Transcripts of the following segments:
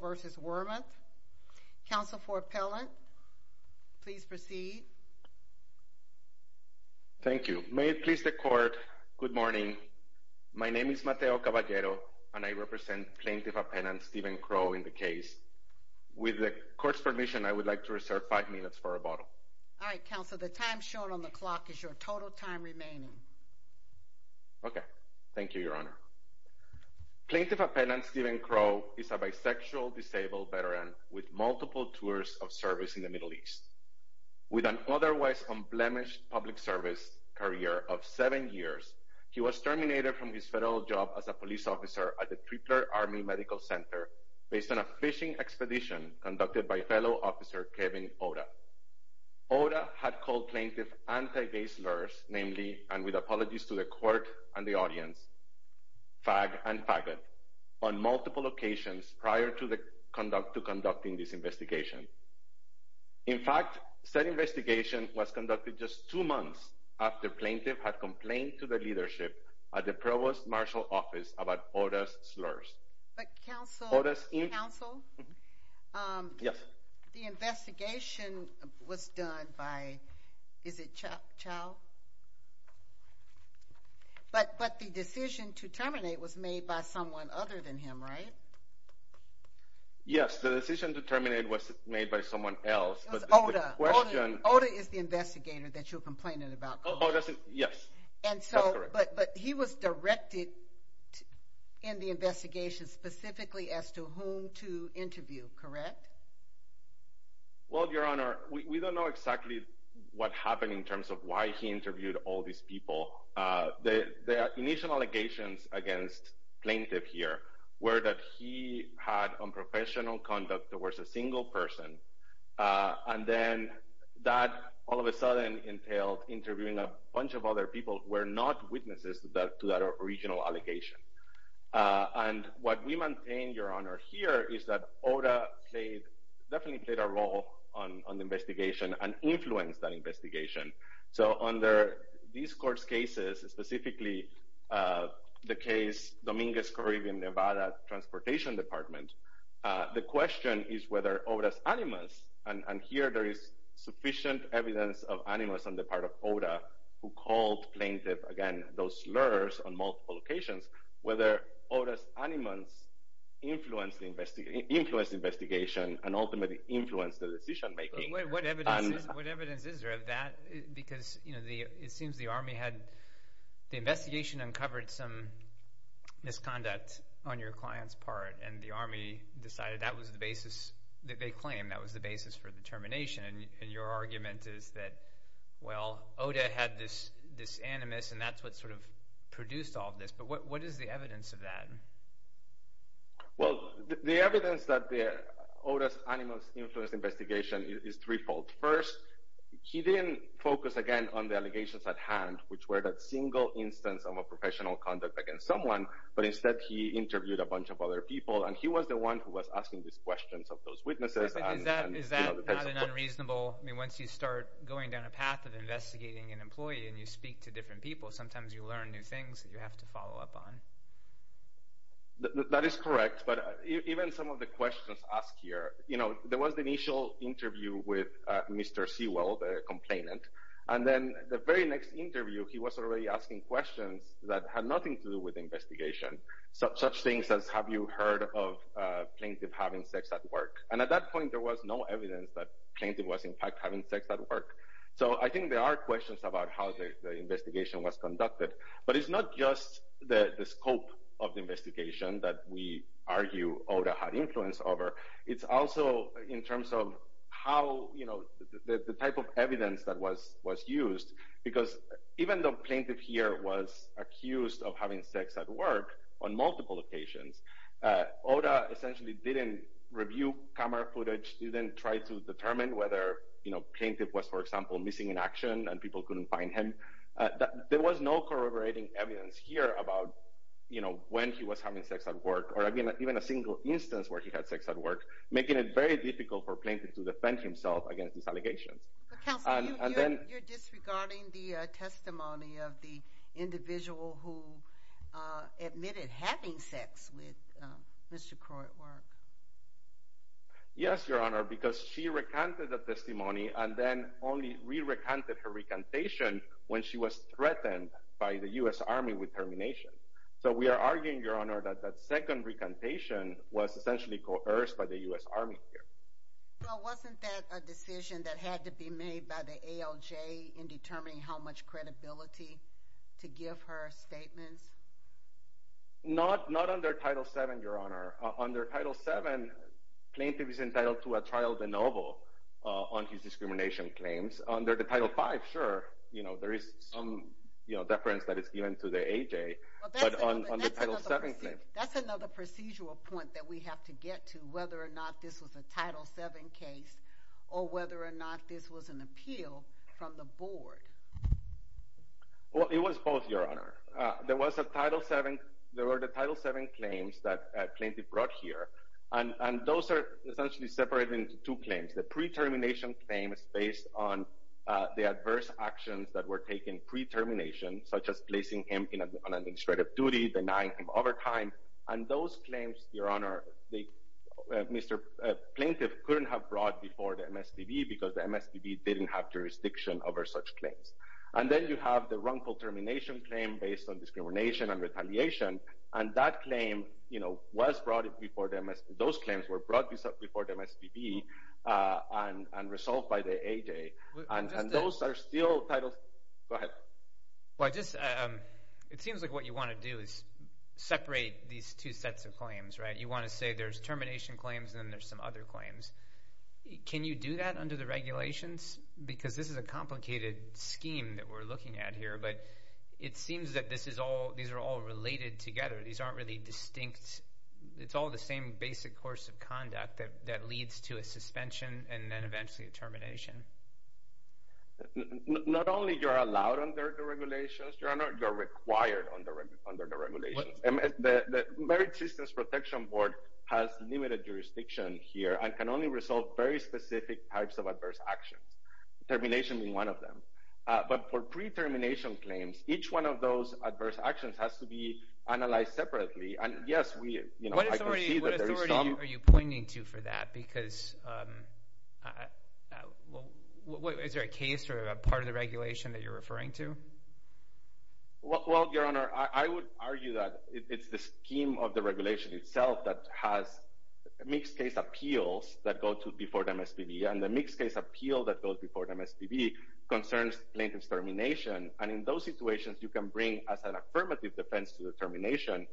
versus Wormuth. Counsel for appellant please proceed. Thank you. May it please the court good morning my name is Mateo Caballero and I represent plaintiff appellant Stephen Crowe in the case. With the court's permission I would like to reserve five minutes for rebuttal. All right counsel the time shown on the clock is your total time remaining. Okay thank you your honor. Plaintiff appellant Stephen Crowe is a bisexual disabled veteran with multiple tours of service in the Middle East. With an otherwise unblemished public service career of seven years he was terminated from his federal job as a police officer at the Tripler Army Medical Center based on a fishing expedition conducted by fellow officer Kevin Oda. Oda had called plaintiff anti-gay slurs namely and with apologies to the court and the audience fag and faggot on multiple occasions prior to the conduct to conducting this investigation. In fact said investigation was conducted just two months after plaintiff had complained to the leadership at the provost marshal office about Oda's slurs. But counsel the investigation was done by is it Chao? But but the decision to terminate was made by someone other than him right? Yes the decision to terminate was made by someone else. Oda is the investigator that you're complaining about. Yes. And so but but he was directed in the investigation specifically as to whom to interview correct? Well your honor we don't know exactly what happened in terms of why he interviewed all these people. The initial allegations against plaintiff here were that he had unprofessional conduct towards a single person and then that all of a sudden entailed interviewing a bunch of other people were not witnesses to that original allegation. And what we maintain your honor here is that Oda played definitely played a role on the investigation and influenced that investigation. So under these court's cases specifically the case Dominguez Caribbean Nevada Transportation Department the question is whether Oda's animus and here there is sufficient evidence of animus on the part of Oda who called plaintiff again those slurs on Oda's animus influenced the investigation and ultimately influenced the decision making. What evidence is there of that? Because you know the it seems the army had the investigation uncovered some misconduct on your client's part and the army decided that was the basis that they claim that was the basis for the termination and your argument is that well Oda had this this animus and that's what sort of produced all this but what is the evidence of that? Well the evidence that the Oda's animus influenced investigation is threefold. First he didn't focus again on the allegations at hand which were that single instance of a professional conduct against someone but instead he interviewed a bunch of other people and he was the one who was asking these questions of those witnesses. Is that unreasonable I mean once you start going down a path of investigating an employee and you speak to different people sometimes you learn new things that you have to follow up on. That is correct but even some of the questions asked here you know there was the initial interview with Mr. Sewell the complainant and then the very next interview he was already asking questions that had nothing to do with investigation such things as have you heard of plaintiff having sex at work and at that point there was no evidence that plaintiff was in fact having sex at work so I think there are questions about how the investigation was conducted but it's not just the scope of the investigation that we argue Oda had influence over it's also in terms of how you know the type of evidence that was was used because even though plaintiff here was accused of having sex at work on multiple occasions Oda essentially didn't review camera footage didn't try to in action and people couldn't find him there was no corroborating evidence here about you know when he was having sex at work or I mean even a single instance where he had sex at work making it very difficult for plaintiff to defend himself against these allegations. Counselor, you're disregarding the testimony of the individual who admitted having sex with Mr. Crow at work. Yes, Your Honor, because she recanted the testimony and then only re-recanted her recantation when she was threatened by the U.S. Army with termination so we are arguing, Your Honor, that that second recantation was essentially coerced by the U.S. Army here. Well, wasn't that a decision that had to be made by the ALJ in determining how much credibility to give her statements? Not under Title VII, Your Honor. Under Title VII, plaintiff is entitled to a trial de novo on his discrimination claims. Under the Title V, sure, you know, there is some deference that is given to the ALJ, but on the Title VII claim... That's another procedural point that we have to get to whether or not this was a Title VII case or whether or not this was an appeal from the board. Well, it was both, Your Honor. There was a Title VII. There were the Title VII claims that plaintiff brought here and those are essentially separated into two claims. The pre-termination claim is based on the adverse actions that were taken pre-termination, such as placing him on administrative duty, denying him overtime, and those claims, Your Honor, Mr. Plaintiff couldn't have brought before the MSPB because the MSPB didn't have jurisdiction over such claims. And then you have the wrongful termination claim based on discrimination and retaliation, and that claim, you know, was brought before the MSPB. Those claims were brought before the MSPB and resolved by the ALJ, and those are still Title VII. Go ahead. Well, it seems like what you want to do is separate these two sets of claims, right? You want to say there's termination claims and then there's some other claims. Can you do that under the regulations? Because this is a complicated scheme that we're looking at here, but it seems that these are all related together. These aren't really distinct. It's all the same basic course of conduct that leads to a suspension and then eventually a termination. Not only you're allowed under the regulations, Your Honor, you're required under the regulations. The Merit Systems Protection Board has limited jurisdiction here and can only resolve very specific types of adverse actions, termination being one of them. But for pre-termination claims, each one of those adverse actions has to be analyzed separately. And yes, we, you know, I can see that there is some— What authority are you pointing to for that? Because, is there a case or a part of the regulation that you're referring to? Well, Your Honor, I would argue that it's the scheme of the regulation itself that has mixed-case appeals that go to before the MSPB. And the mixed-case appeal that goes before the MSPB concerns plaintiff's termination. And in those situations, you can bring, as an affirmative defense to the termination,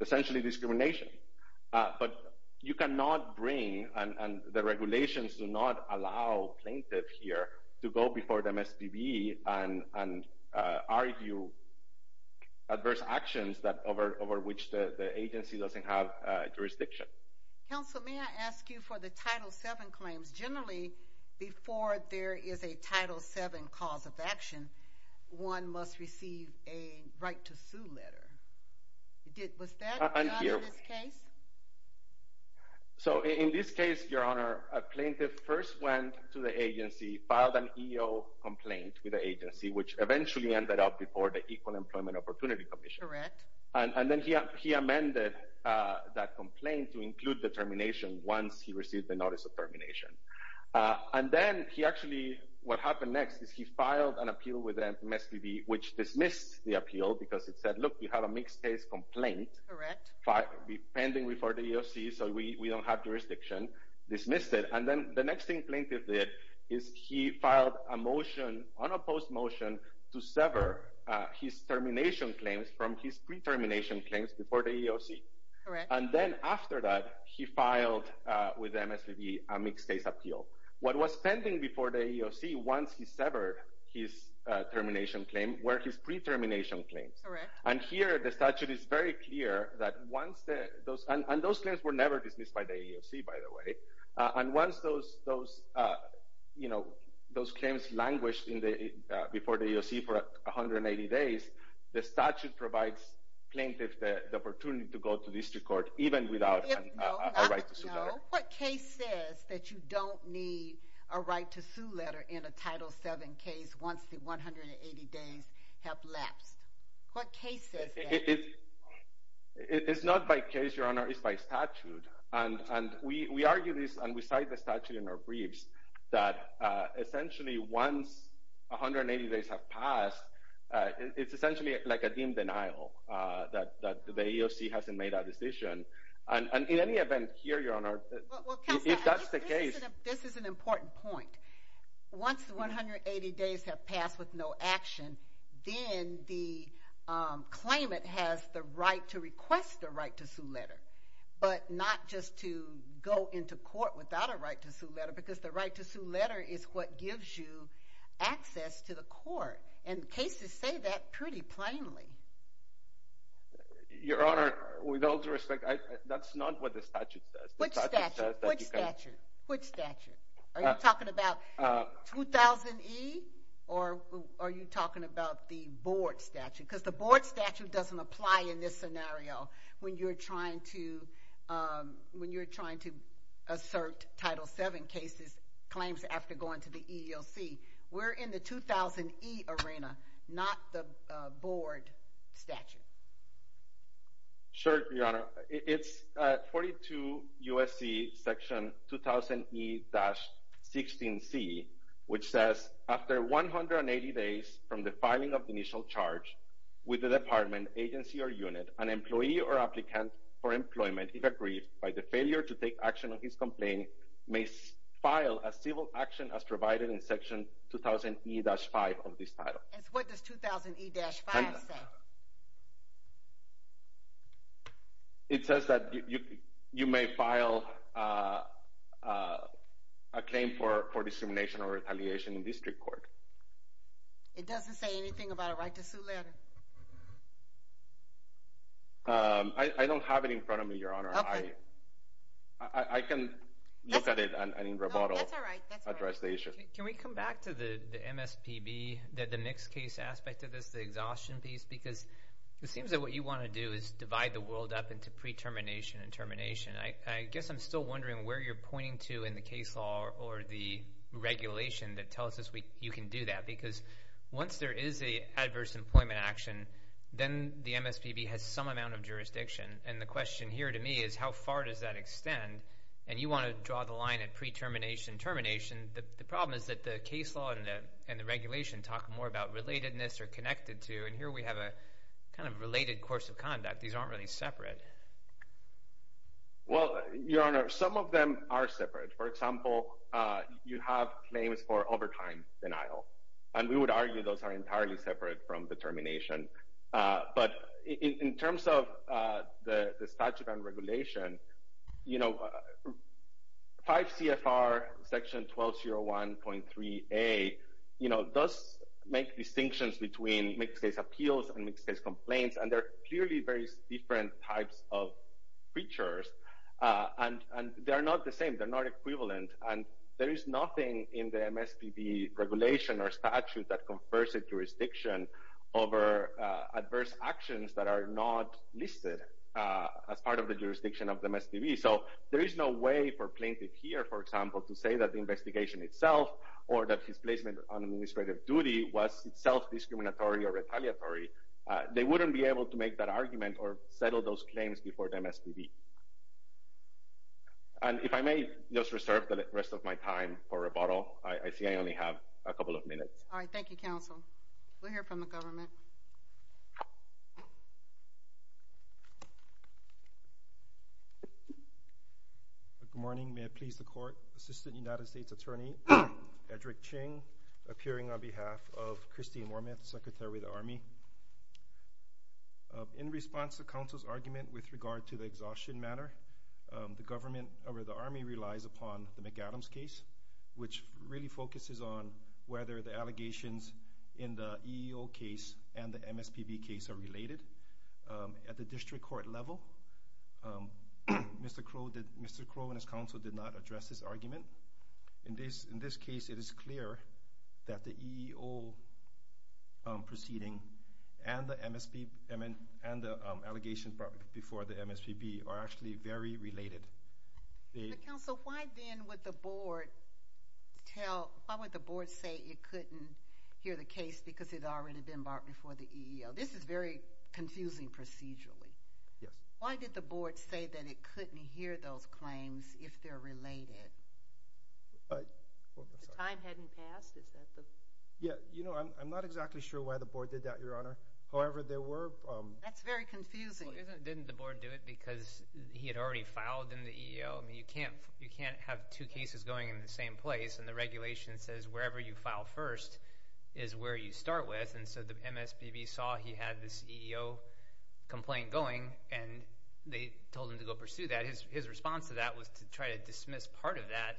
essentially discrimination. But you cannot bring—and the regulations do not allow plaintiff here to go before the MSPB and argue adverse actions over which the agency doesn't have jurisdiction. Counsel, may I ask you for the Title VII claims? Generally, before there is a Title VII cause of action, one must receive a right to sue letter. Was that the case? So, in this case, Your Honor, a plaintiff first went to the agency, filed an EO complaint with the agency, which eventually ended up before the Equal Employment Opportunity Commission. And then he amended that complaint to include the termination once he received the notice of termination. And then he actually—what happened next is he filed an appeal with the MSPB, which dismissed the appeal because it said, look, you have a mixed-case complaint pending before the EEOC, so we don't have jurisdiction, dismissed it. And then the next thing plaintiff did is he filed a motion, unopposed motion, to sever his termination claims from his pre-termination claims before the EEOC. And then after that, he filed with the MSPB a mixed-case appeal. What was pending before the EEOC once he severed his termination claim were his pre-termination claims. And here, the statute is very clear that once—and those claims were never dismissed by the EEOC, by the way. And once those claims languished before the EEOC for 180 days, the statute provides plaintiffs the opportunity to go to district court even without a right to sue letter. It's not by case, Your Honor, it's by statute. And we argue this and we cite the statute in our briefs that essentially once 180 days have passed, it's essentially like a deemed denial that the EEOC hasn't made a decision. And in any event here, Your Honor, if that's the case— Well, Counselor, I think this is an important point. Once the 180 days have passed with no action, then the claimant has the right to request a right to sue letter, but not just to go into court without a right to sue letter, because the right to sue letter is what gives you access to the court. And cases say that pretty plainly. Your Honor, with all due respect, that's not what the statute says. Which statute? Which statute? Which statute? Are you talking about 2000E or are you talking about the board statute? Because the board statute doesn't apply in this scenario when you're trying to assert Title VII claims after going to the EEOC. We're in the 2000E arena, not the board statute. Sure, Your Honor. It's 42 U.S.C. section 2000E-16C, which says, After 180 days from the filing of the initial charge with the department, agency, or unit, an employee or applicant for employment, if aggrieved by the failure to take action on his complaint, may file a civil action as provided in section 2000E-5 of this title. And what does 2000E-5 say? It says that you may file a claim for discrimination or retaliation in district court. It doesn't say anything about a right to sue letter? I don't have it in front of me, Your Honor. I can look at it and in rebuttal address the issue. Can we come back to the MSPB, the mixed case aspect of this, the exhaustion piece? Because it seems that what you want to do is divide the world up into pre-termination and termination. I guess I'm still wondering where you're pointing to in the case law or the regulation that tells us you can do that. Because once there is an adverse employment action, then the MSPB has some amount of jurisdiction. And the question here to me is how far does that extend? And you want to draw the line at pre-termination and termination. The problem is that the case law and the regulation talk more about relatedness or connected to. And here we have a kind of related course of conduct. These aren't really separate. Well, Your Honor, some of them are separate. For example, you have claims for overtime denial. And we would argue those are entirely separate from determination. But in terms of the statute and regulation, you know, 5 CFR section 1201.3A, you know, does make distinctions between mixed case appeals and mixed case complaints. And they're clearly very different types of features. And they're not the same. They're not equivalent. And there is nothing in the MSPB regulation or statute that confers a jurisdiction over adverse actions that are not listed as part of the jurisdiction of the MSPB. So there is no way for plaintiff here, for example, to say that the investigation itself or that his placement on administrative duty was itself discriminatory or retaliatory. They wouldn't be able to make that argument or settle those claims before the MSPB. And if I may just reserve the rest of my time for rebuttal. I see I only have a couple of minutes. All right. Thank you, Counsel. We'll hear from the government. Good morning. May it please the Court. Assistant United States Attorney, Edrick Ching, appearing on behalf of Christine Wormuth, Secretary of the Army. In response to Counsel's argument with regard to the exhaustion matter, the Army relies upon the McAdams case, which really focuses on whether the allegations in the EEO case and the MSPB case are related. At the district court level, Mr. Crow and his counsel did not address this argument. In this case, it is clear that the EEO proceeding and the allegations brought before the MSPB are actually very related. Counsel, why then would the Board say it couldn't hear the case because it had already been brought before the EEO? This is very confusing procedurally. Yes. Why did the Board say that it couldn't hear those claims if they're related? The time hadn't passed? I'm not exactly sure why the Board did that, Your Honor. However, there were— That's very confusing. Well, didn't the Board do it because he had already filed in the EEO? You can't have two cases going in the same place, and the regulation says wherever you file first is where you start with. So the MSPB saw he had this EEO complaint going, and they told him to go pursue that. His response to that was to try to dismiss part of that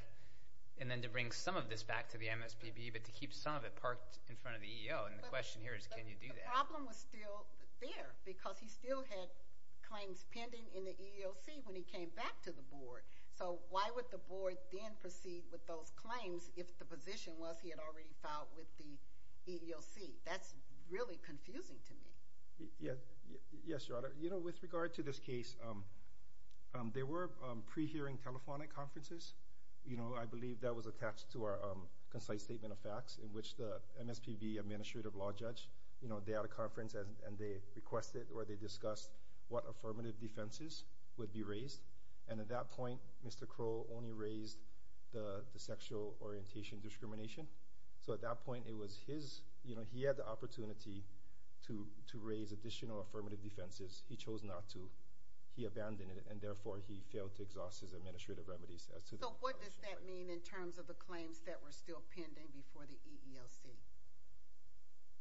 and then to bring some of this back to the MSPB but to keep some of it parked in front of the EEO, and the question here is can you do that? The problem was still there because he still had claims pending in the EEOC when he came back to the Board. So why would the Board then proceed with those claims if the position was he had already filed with the EEOC? That's really confusing to me. Yes, Your Honor. With regard to this case, there were pre-hearing telephonic conferences. I believe that was attached to our concise statement of facts in which the MSPB administrative law judge, they had a conference and they requested or they discussed what affirmative defenses would be raised, and at that point Mr. Crowe only raised the sexual orientation discrimination. So at that point it was his, you know, he had the opportunity to raise additional affirmative defenses. He chose not to. He abandoned it, and therefore he failed to exhaust his administrative remedies. So what does that mean in terms of the claims that were still pending before the EEOC?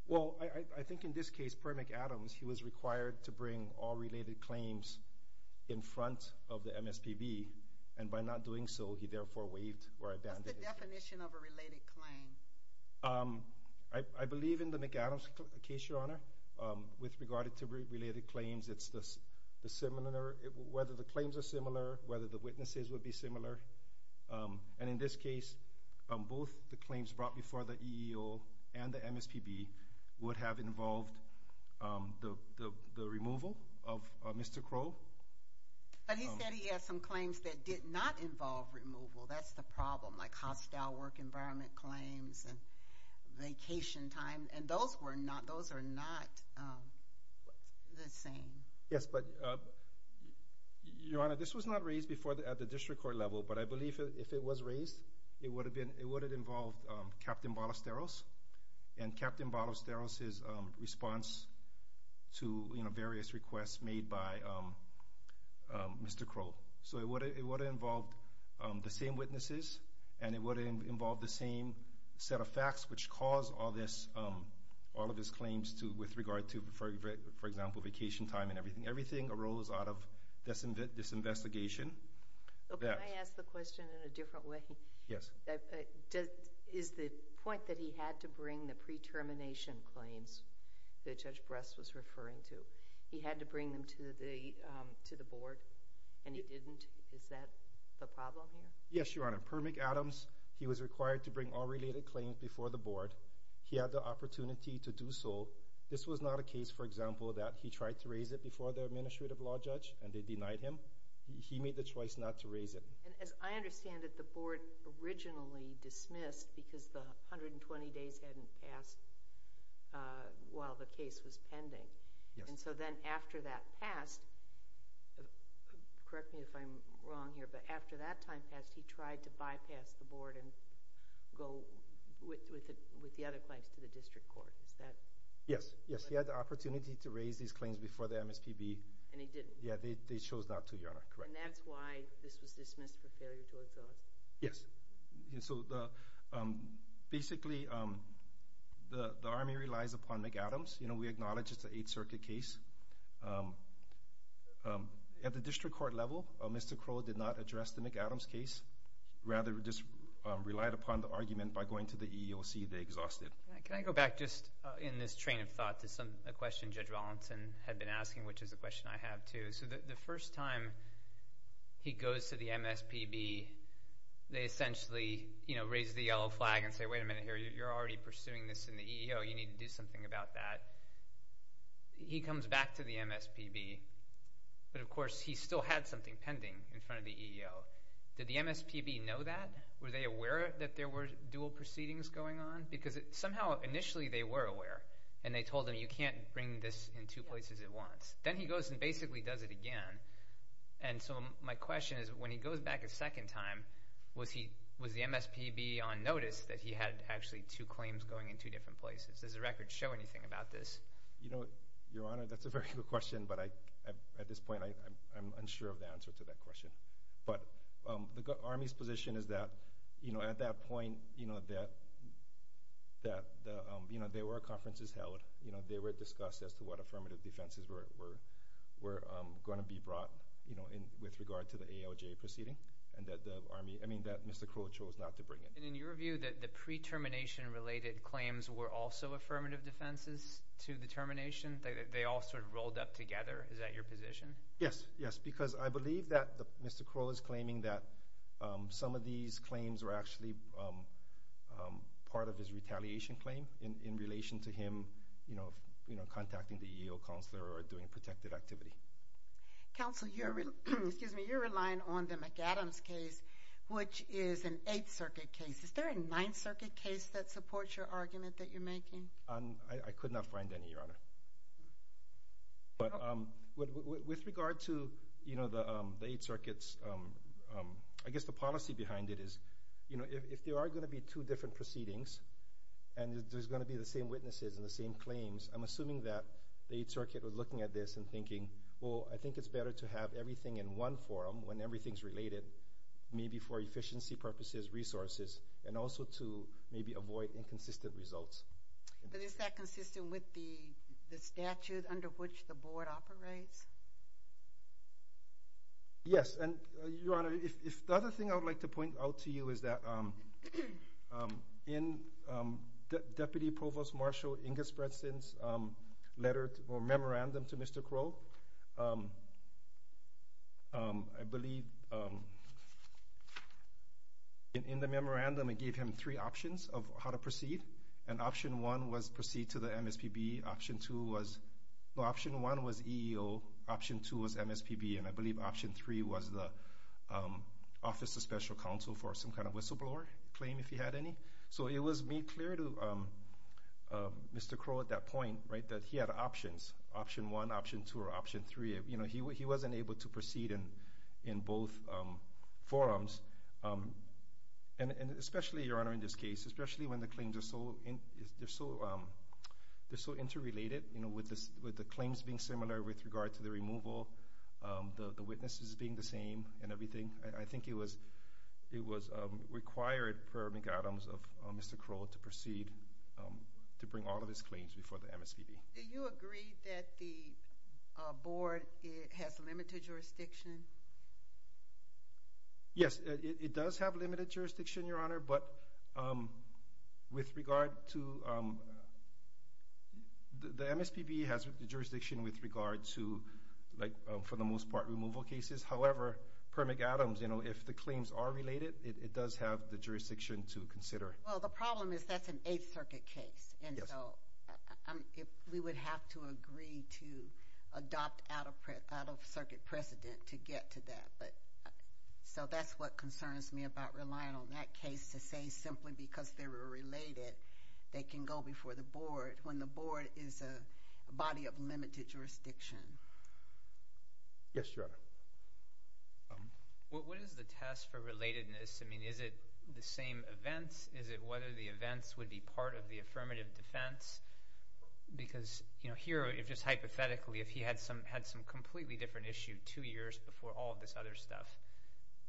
Well, I think in this case, per McAdams, he was required to bring all related claims in front of the MSPB, and by not doing so, he therefore waived or abandoned his claim. What's the definition of a related claim? I believe in the McAdams case, Your Honor, with regard to related claims, it's the similar, whether the claims are similar, whether the witnesses would be similar. And in this case, both the claims brought before the EEOC and the MSPB would have involved the removal of Mr. Crowe. But he said he had some claims that did not involve removal. That's the problem, like hostile work environment claims and vacation time, and those were not, those are not the same. Yes, but, Your Honor, this was not raised before at the district court level, but I believe if it was raised, it would have been, it would have involved Captain Ballesteros, and Captain Ballesteros' response to various requests made by Mr. Crowe. So it would have involved the same witnesses, and it would have involved the same set of facts which caused all this, all of his claims with regard to, for example, vacation time and everything. Everything arose out of this investigation. Can I ask the question in a different way? Yes. Is the point that he had to bring the pre-termination claims that Judge Bress was referring to, he had to bring them to the board, and he didn't? Is that the problem here? Yes, Your Honor. Per McAdams, he was required to bring all related claims before the board. He had the opportunity to do so. This was not a case, for example, that he tried to raise it before the administrative law judge, and they denied him. He made the choice not to raise it. And as I understand it, the board originally dismissed because the 120 days hadn't passed while the case was pending. Yes. And so then after that passed, correct me if I'm wrong here, but after that time passed, he tried to bypass the board and go with the other claims to the district court. Is that correct? Yes, yes. He had the opportunity to raise these claims before the MSPB. And he didn't? Yeah, they chose not to, Your Honor. Correct. And that's why this was dismissed for failure to exhaust? Yes. So basically, the Army relies upon McAdams. You know, we acknowledge it's an Eighth Circuit case. At the district court level, Mr. Crow did not address the McAdams case, rather just relied upon the argument by going to the EEOC they exhausted. Can I go back just in this train of thought to a question Judge Rollinson had been asking, which is a question I have, too? So the first time he goes to the MSPB, they essentially, you know, raise the yellow flag and say, wait a minute here, you're already pursuing this in the EEO. You need to do something about that. He comes back to the MSPB, but, of course, he still had something pending in front of the EEO. Did the MSPB know that? Were they aware that there were dual proceedings going on? Because somehow initially they were aware, and they told him you can't bring this in two places at once. Then he goes and basically does it again, and so my question is when he goes back a second time, was the MSPB on notice that he had actually two claims going in two different places? Does the record show anything about this? You know, Your Honor, that's a very good question, but at this point I'm unsure of the answer to that question. But the Army's position is that, you know, at that point, you know, there were conferences held. They were discussed as to what affirmative defenses were going to be brought, you know, with regard to the ALJ proceeding and that the Army, I mean, that Mr. Crow chose not to bring it. And in your view, the pre-termination related claims were also affirmative defenses to the termination? They all sort of rolled up together. Is that your position? Yes, yes, because I believe that Mr. Crow is claiming that some of these claims were actually part of his retaliation claim in relation to him, you know, contacting the EEO counselor or doing protective activity. Counsel, you're relying on the McAdams case, which is an Eighth Circuit case. Is there a Ninth Circuit case that supports your argument that you're making? I could not find any, Your Honor. But with regard to, you know, the Eighth Circuit's, I guess the policy behind it is, you know, if there are going to be two different proceedings and there's going to be the same witnesses and the same claims, I'm assuming that the Eighth Circuit was looking at this and thinking, well, I think it's better to have everything in one forum when everything's related, maybe for efficiency purposes, resources, and also to maybe avoid inconsistent results. But is that consistent with the statute under which the board operates? Yes, and, Your Honor, if the other thing I would like to point out to you is that in Deputy Provost Marshall Ingersbretson's letter or memorandum to Mr. Crow, I believe in the memorandum it gave him three options of how to proceed and option one was proceed to the MSPB, option two was, no, option one was EEO, option two was MSPB, and I believe option three was the Office of Special Counsel for some kind of whistleblower claim, if he had any. So it was made clear to Mr. Crow at that point, right, that he had options, option one, option two, or option three. You know, he wasn't able to proceed in both forums, and especially, Your Honor, in this case, especially when the claims are so interrelated, you know, with the claims being similar with regard to the removal, the witnesses being the same and everything, I think it was required per McAdams of Mr. Crow to proceed to bring all of his claims before the MSPB. Do you agree that the board has limited jurisdiction? Yes, it does have limited jurisdiction, Your Honor, but with regard to the MSPB has jurisdiction with regard to, like for the most part, removal cases. However, per McAdams, you know, if the claims are related, it does have the jurisdiction to consider. Well, the problem is that's an Eighth Circuit case, and so we would have to agree to adopt out-of-circuit precedent to get to that. So that's what concerns me about relying on that case to say simply because they were related they can go before the board when the board is a body of limited jurisdiction. Yes, Your Honor. What is the test for relatedness? I mean, is it the same events? Is it whether the events would be part of the affirmative defense? Because, you know, here, just hypothetically, if he had some completely different issue two years before all of this other stuff,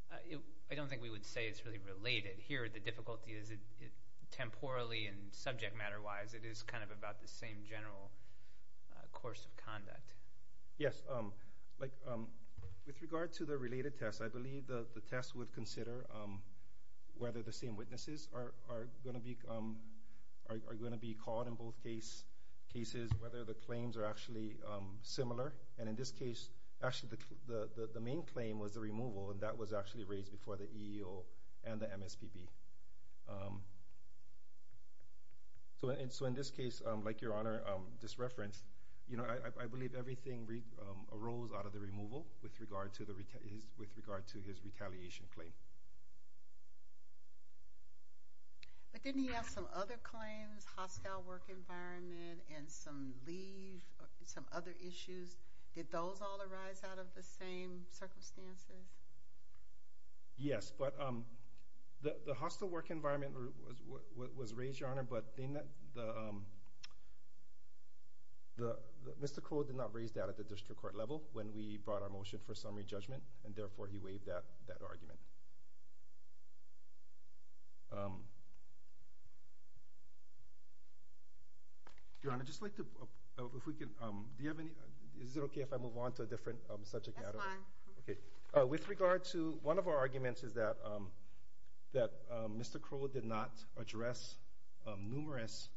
I don't think we would say it's really related. Here the difficulty is temporally and subject matter-wise, it is kind of about the same general course of conduct. Yes, like with regard to the related test, I believe the test would consider whether the same witnesses are going to be called in both cases, whether the claims are actually similar. And in this case, actually the main claim was the removal, and that was actually raised before the EEO and the MSPB. So in this case, like Your Honor just referenced, I believe everything arose out of the removal with regard to his retaliation claim. But didn't he have some other claims, hostile work environment, and some leave, some other issues? Did those all arise out of the same circumstances? Yes, but the hostile work environment was raised, Your Honor, but Mr. Crow did not raise that at the district court level when we brought our motion for summary judgment, and therefore he waived that argument. Your Honor, is it okay if I move on to a different subject matter? That's fine. With regard to one of our arguments is that Mr. Crow did not address numerous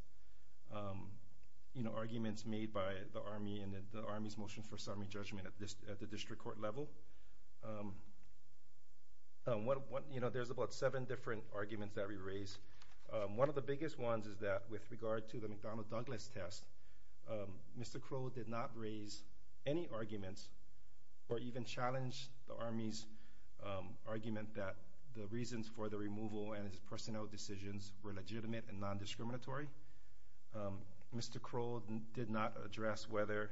arguments made by the Army and the Army's motion for summary judgment at the district court level. There's about seven different arguments that we raised. One of the biggest ones is that with regard to the McDonnell Douglas test, Mr. Crow did not raise any arguments or even challenge the Army's argument that the reasons for the removal and his personnel decisions were legitimate and non-discriminatory. Mr. Crow did not address whether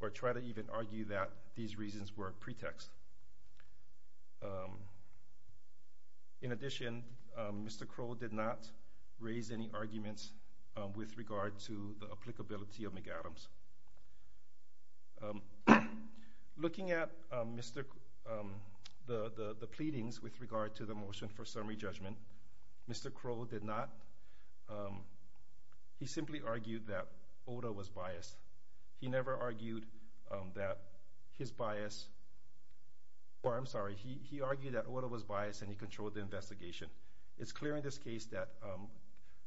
or try to even argue that these reasons were a pretext. In addition, Mr. Crow did not raise any arguments with regard to the applicability of McAdams. Looking at the pleadings with regard to the motion for summary judgment, Mr. Crow did not. He simply argued that Ota was biased. He never argued that his bias, or I'm sorry, he argued that Ota was biased and he controlled the investigation. It's clear in this case that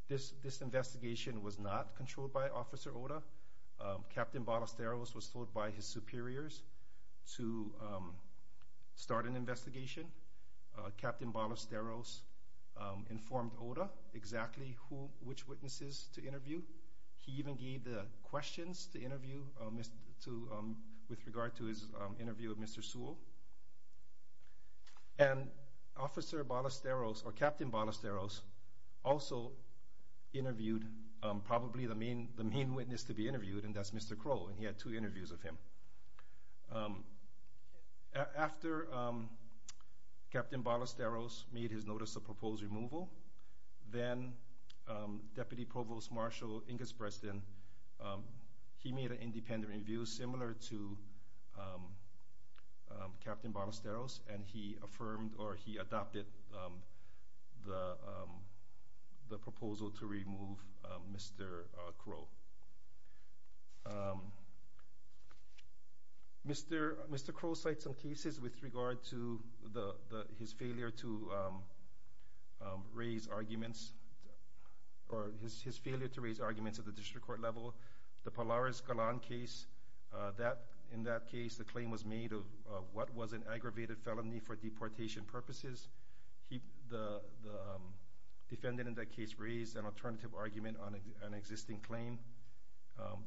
this investigation was not controlled by Officer Ota. Captain Ballesteros was told by his superiors to start an investigation. Captain Ballesteros informed Ota exactly which witnesses to interview. He even gave the questions to interview with regard to his interview with Mr. Sewell. And Officer Ballesteros, or Captain Ballesteros, also interviewed probably the main witness to be interviewed, and that's Mr. Crow, and he had two interviews with him. After Captain Ballesteros made his notice of proposed removal, then Deputy Provost Marshall Inges Breston, he made an independent review similar to Captain Ballesteros, and he affirmed or he adopted the proposal to remove Mr. Crow. Mr. Crow cites some cases with regard to his failure to raise arguments at the district court level. The Polaris Galan case, in that case the claim was made of what was an aggravated felony for deportation purposes. The defendant in that case raised an alternative argument on an existing claim.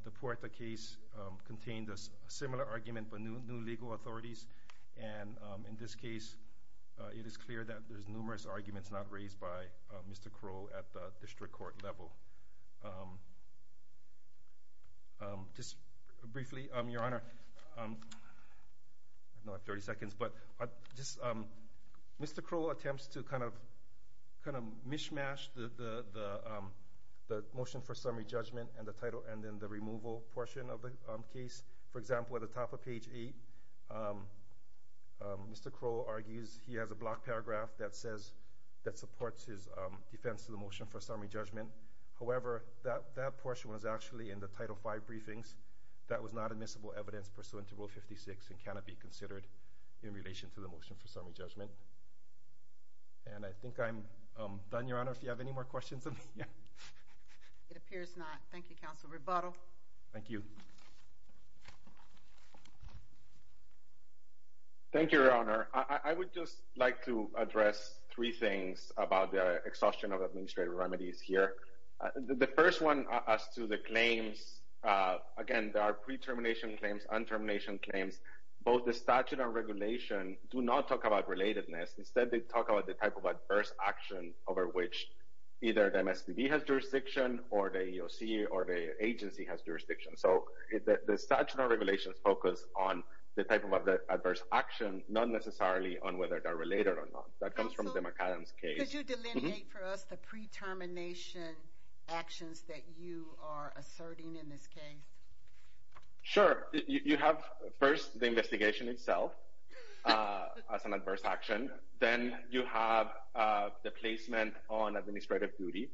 The Puerta case contained a similar argument but new legal authorities, and in this case it is clear that there's numerous arguments not raised by Mr. Crow at the district court level. Just briefly, Your Honor, I don't have 30 seconds, but Mr. Crow attempts to kind of mishmash the motion for summary judgment and the title, and then the removal portion of the case. For example, at the top of page 8, Mr. Crow argues he has a block paragraph that says that supports his defense of the motion for summary judgment. However, that portion was actually in the Title V briefings. That was not admissible evidence pursuant to Rule 56 and cannot be considered in relation to the motion for summary judgment. And I think I'm done, Your Honor, if you have any more questions of me. It appears not. Thank you, Counsel Rebuttal. Thank you. Thank you, Your Honor. I would just like to address three things about the exhaustion of administrative remedies here. The first one as to the claims, again, there are pre-termination claims, un-termination claims. Both the statute and regulation do not talk about relatedness. Instead, they talk about the type of adverse action over which either the MSPB has jurisdiction or the EEOC or the agency has jurisdiction. So the statute and regulations focus on the type of adverse action, not necessarily on whether they're related or not. That comes from the McAdams case. Could you delineate for us the pre-termination actions that you are asserting in this case? Sure. You have first the investigation itself as an adverse action. Then you have the placement on administrative duty.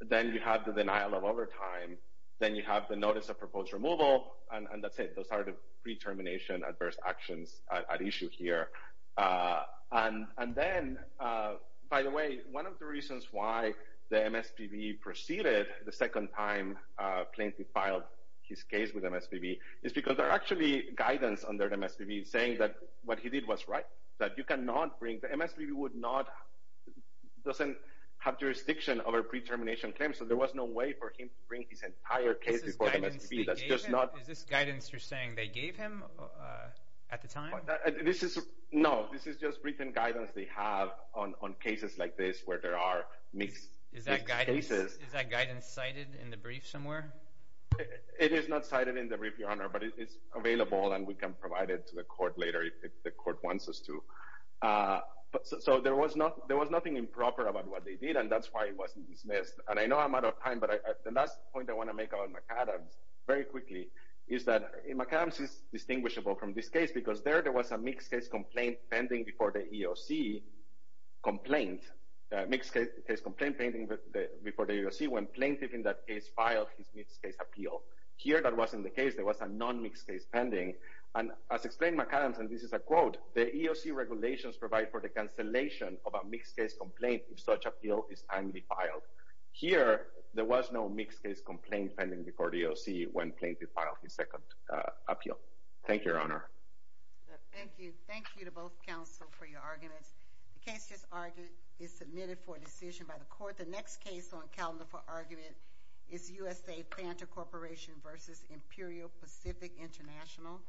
Then you have the denial of overtime. Then you have the notice of proposed removal. And that's it. Those are the pre-termination adverse actions at issue here. And then, by the way, one of the reasons why the MSPB proceeded the second time Plaintiff filed his case with MSPB is because there are actually guidance under the MSPB saying that what he did was right, that you cannot bring – the MSPB would not – doesn't have jurisdiction over pre-termination claims, so there was no way for him to bring his entire case before the MSPB. Is this guidance they gave him? Is this guidance you're saying they gave him at the time? This is – no. This is just briefing guidance they have on cases like this where there are mixed cases. Is that guidance cited in the brief somewhere? It is not cited in the brief, Your Honor, but it's available, and we can provide it to the court later if the court wants us to. So there was nothing improper about what they did, and that's why it wasn't dismissed. And I know I'm out of time, but the last point I want to make on McAdams very quickly is that there was a mixed-case complaint pending before the EEOC complaint – mixed-case complaint pending before the EEOC when plaintiff in that case filed his mixed-case appeal. Here that wasn't the case. There was a non-mixed-case pending. And as explained in McAdams, and this is a quote, the EEOC regulations provide for the cancellation of a mixed-case complaint if such appeal is timely filed. Here there was no mixed-case complaint pending before the EEOC when plaintiff filed his second appeal. Thank you, Your Honor. Thank you. Thank you to both counsel for your arguments. The case just argued is submitted for decision by the court. The next case on the calendar for argument is USA Panther Corporation v. Imperial Pacific International.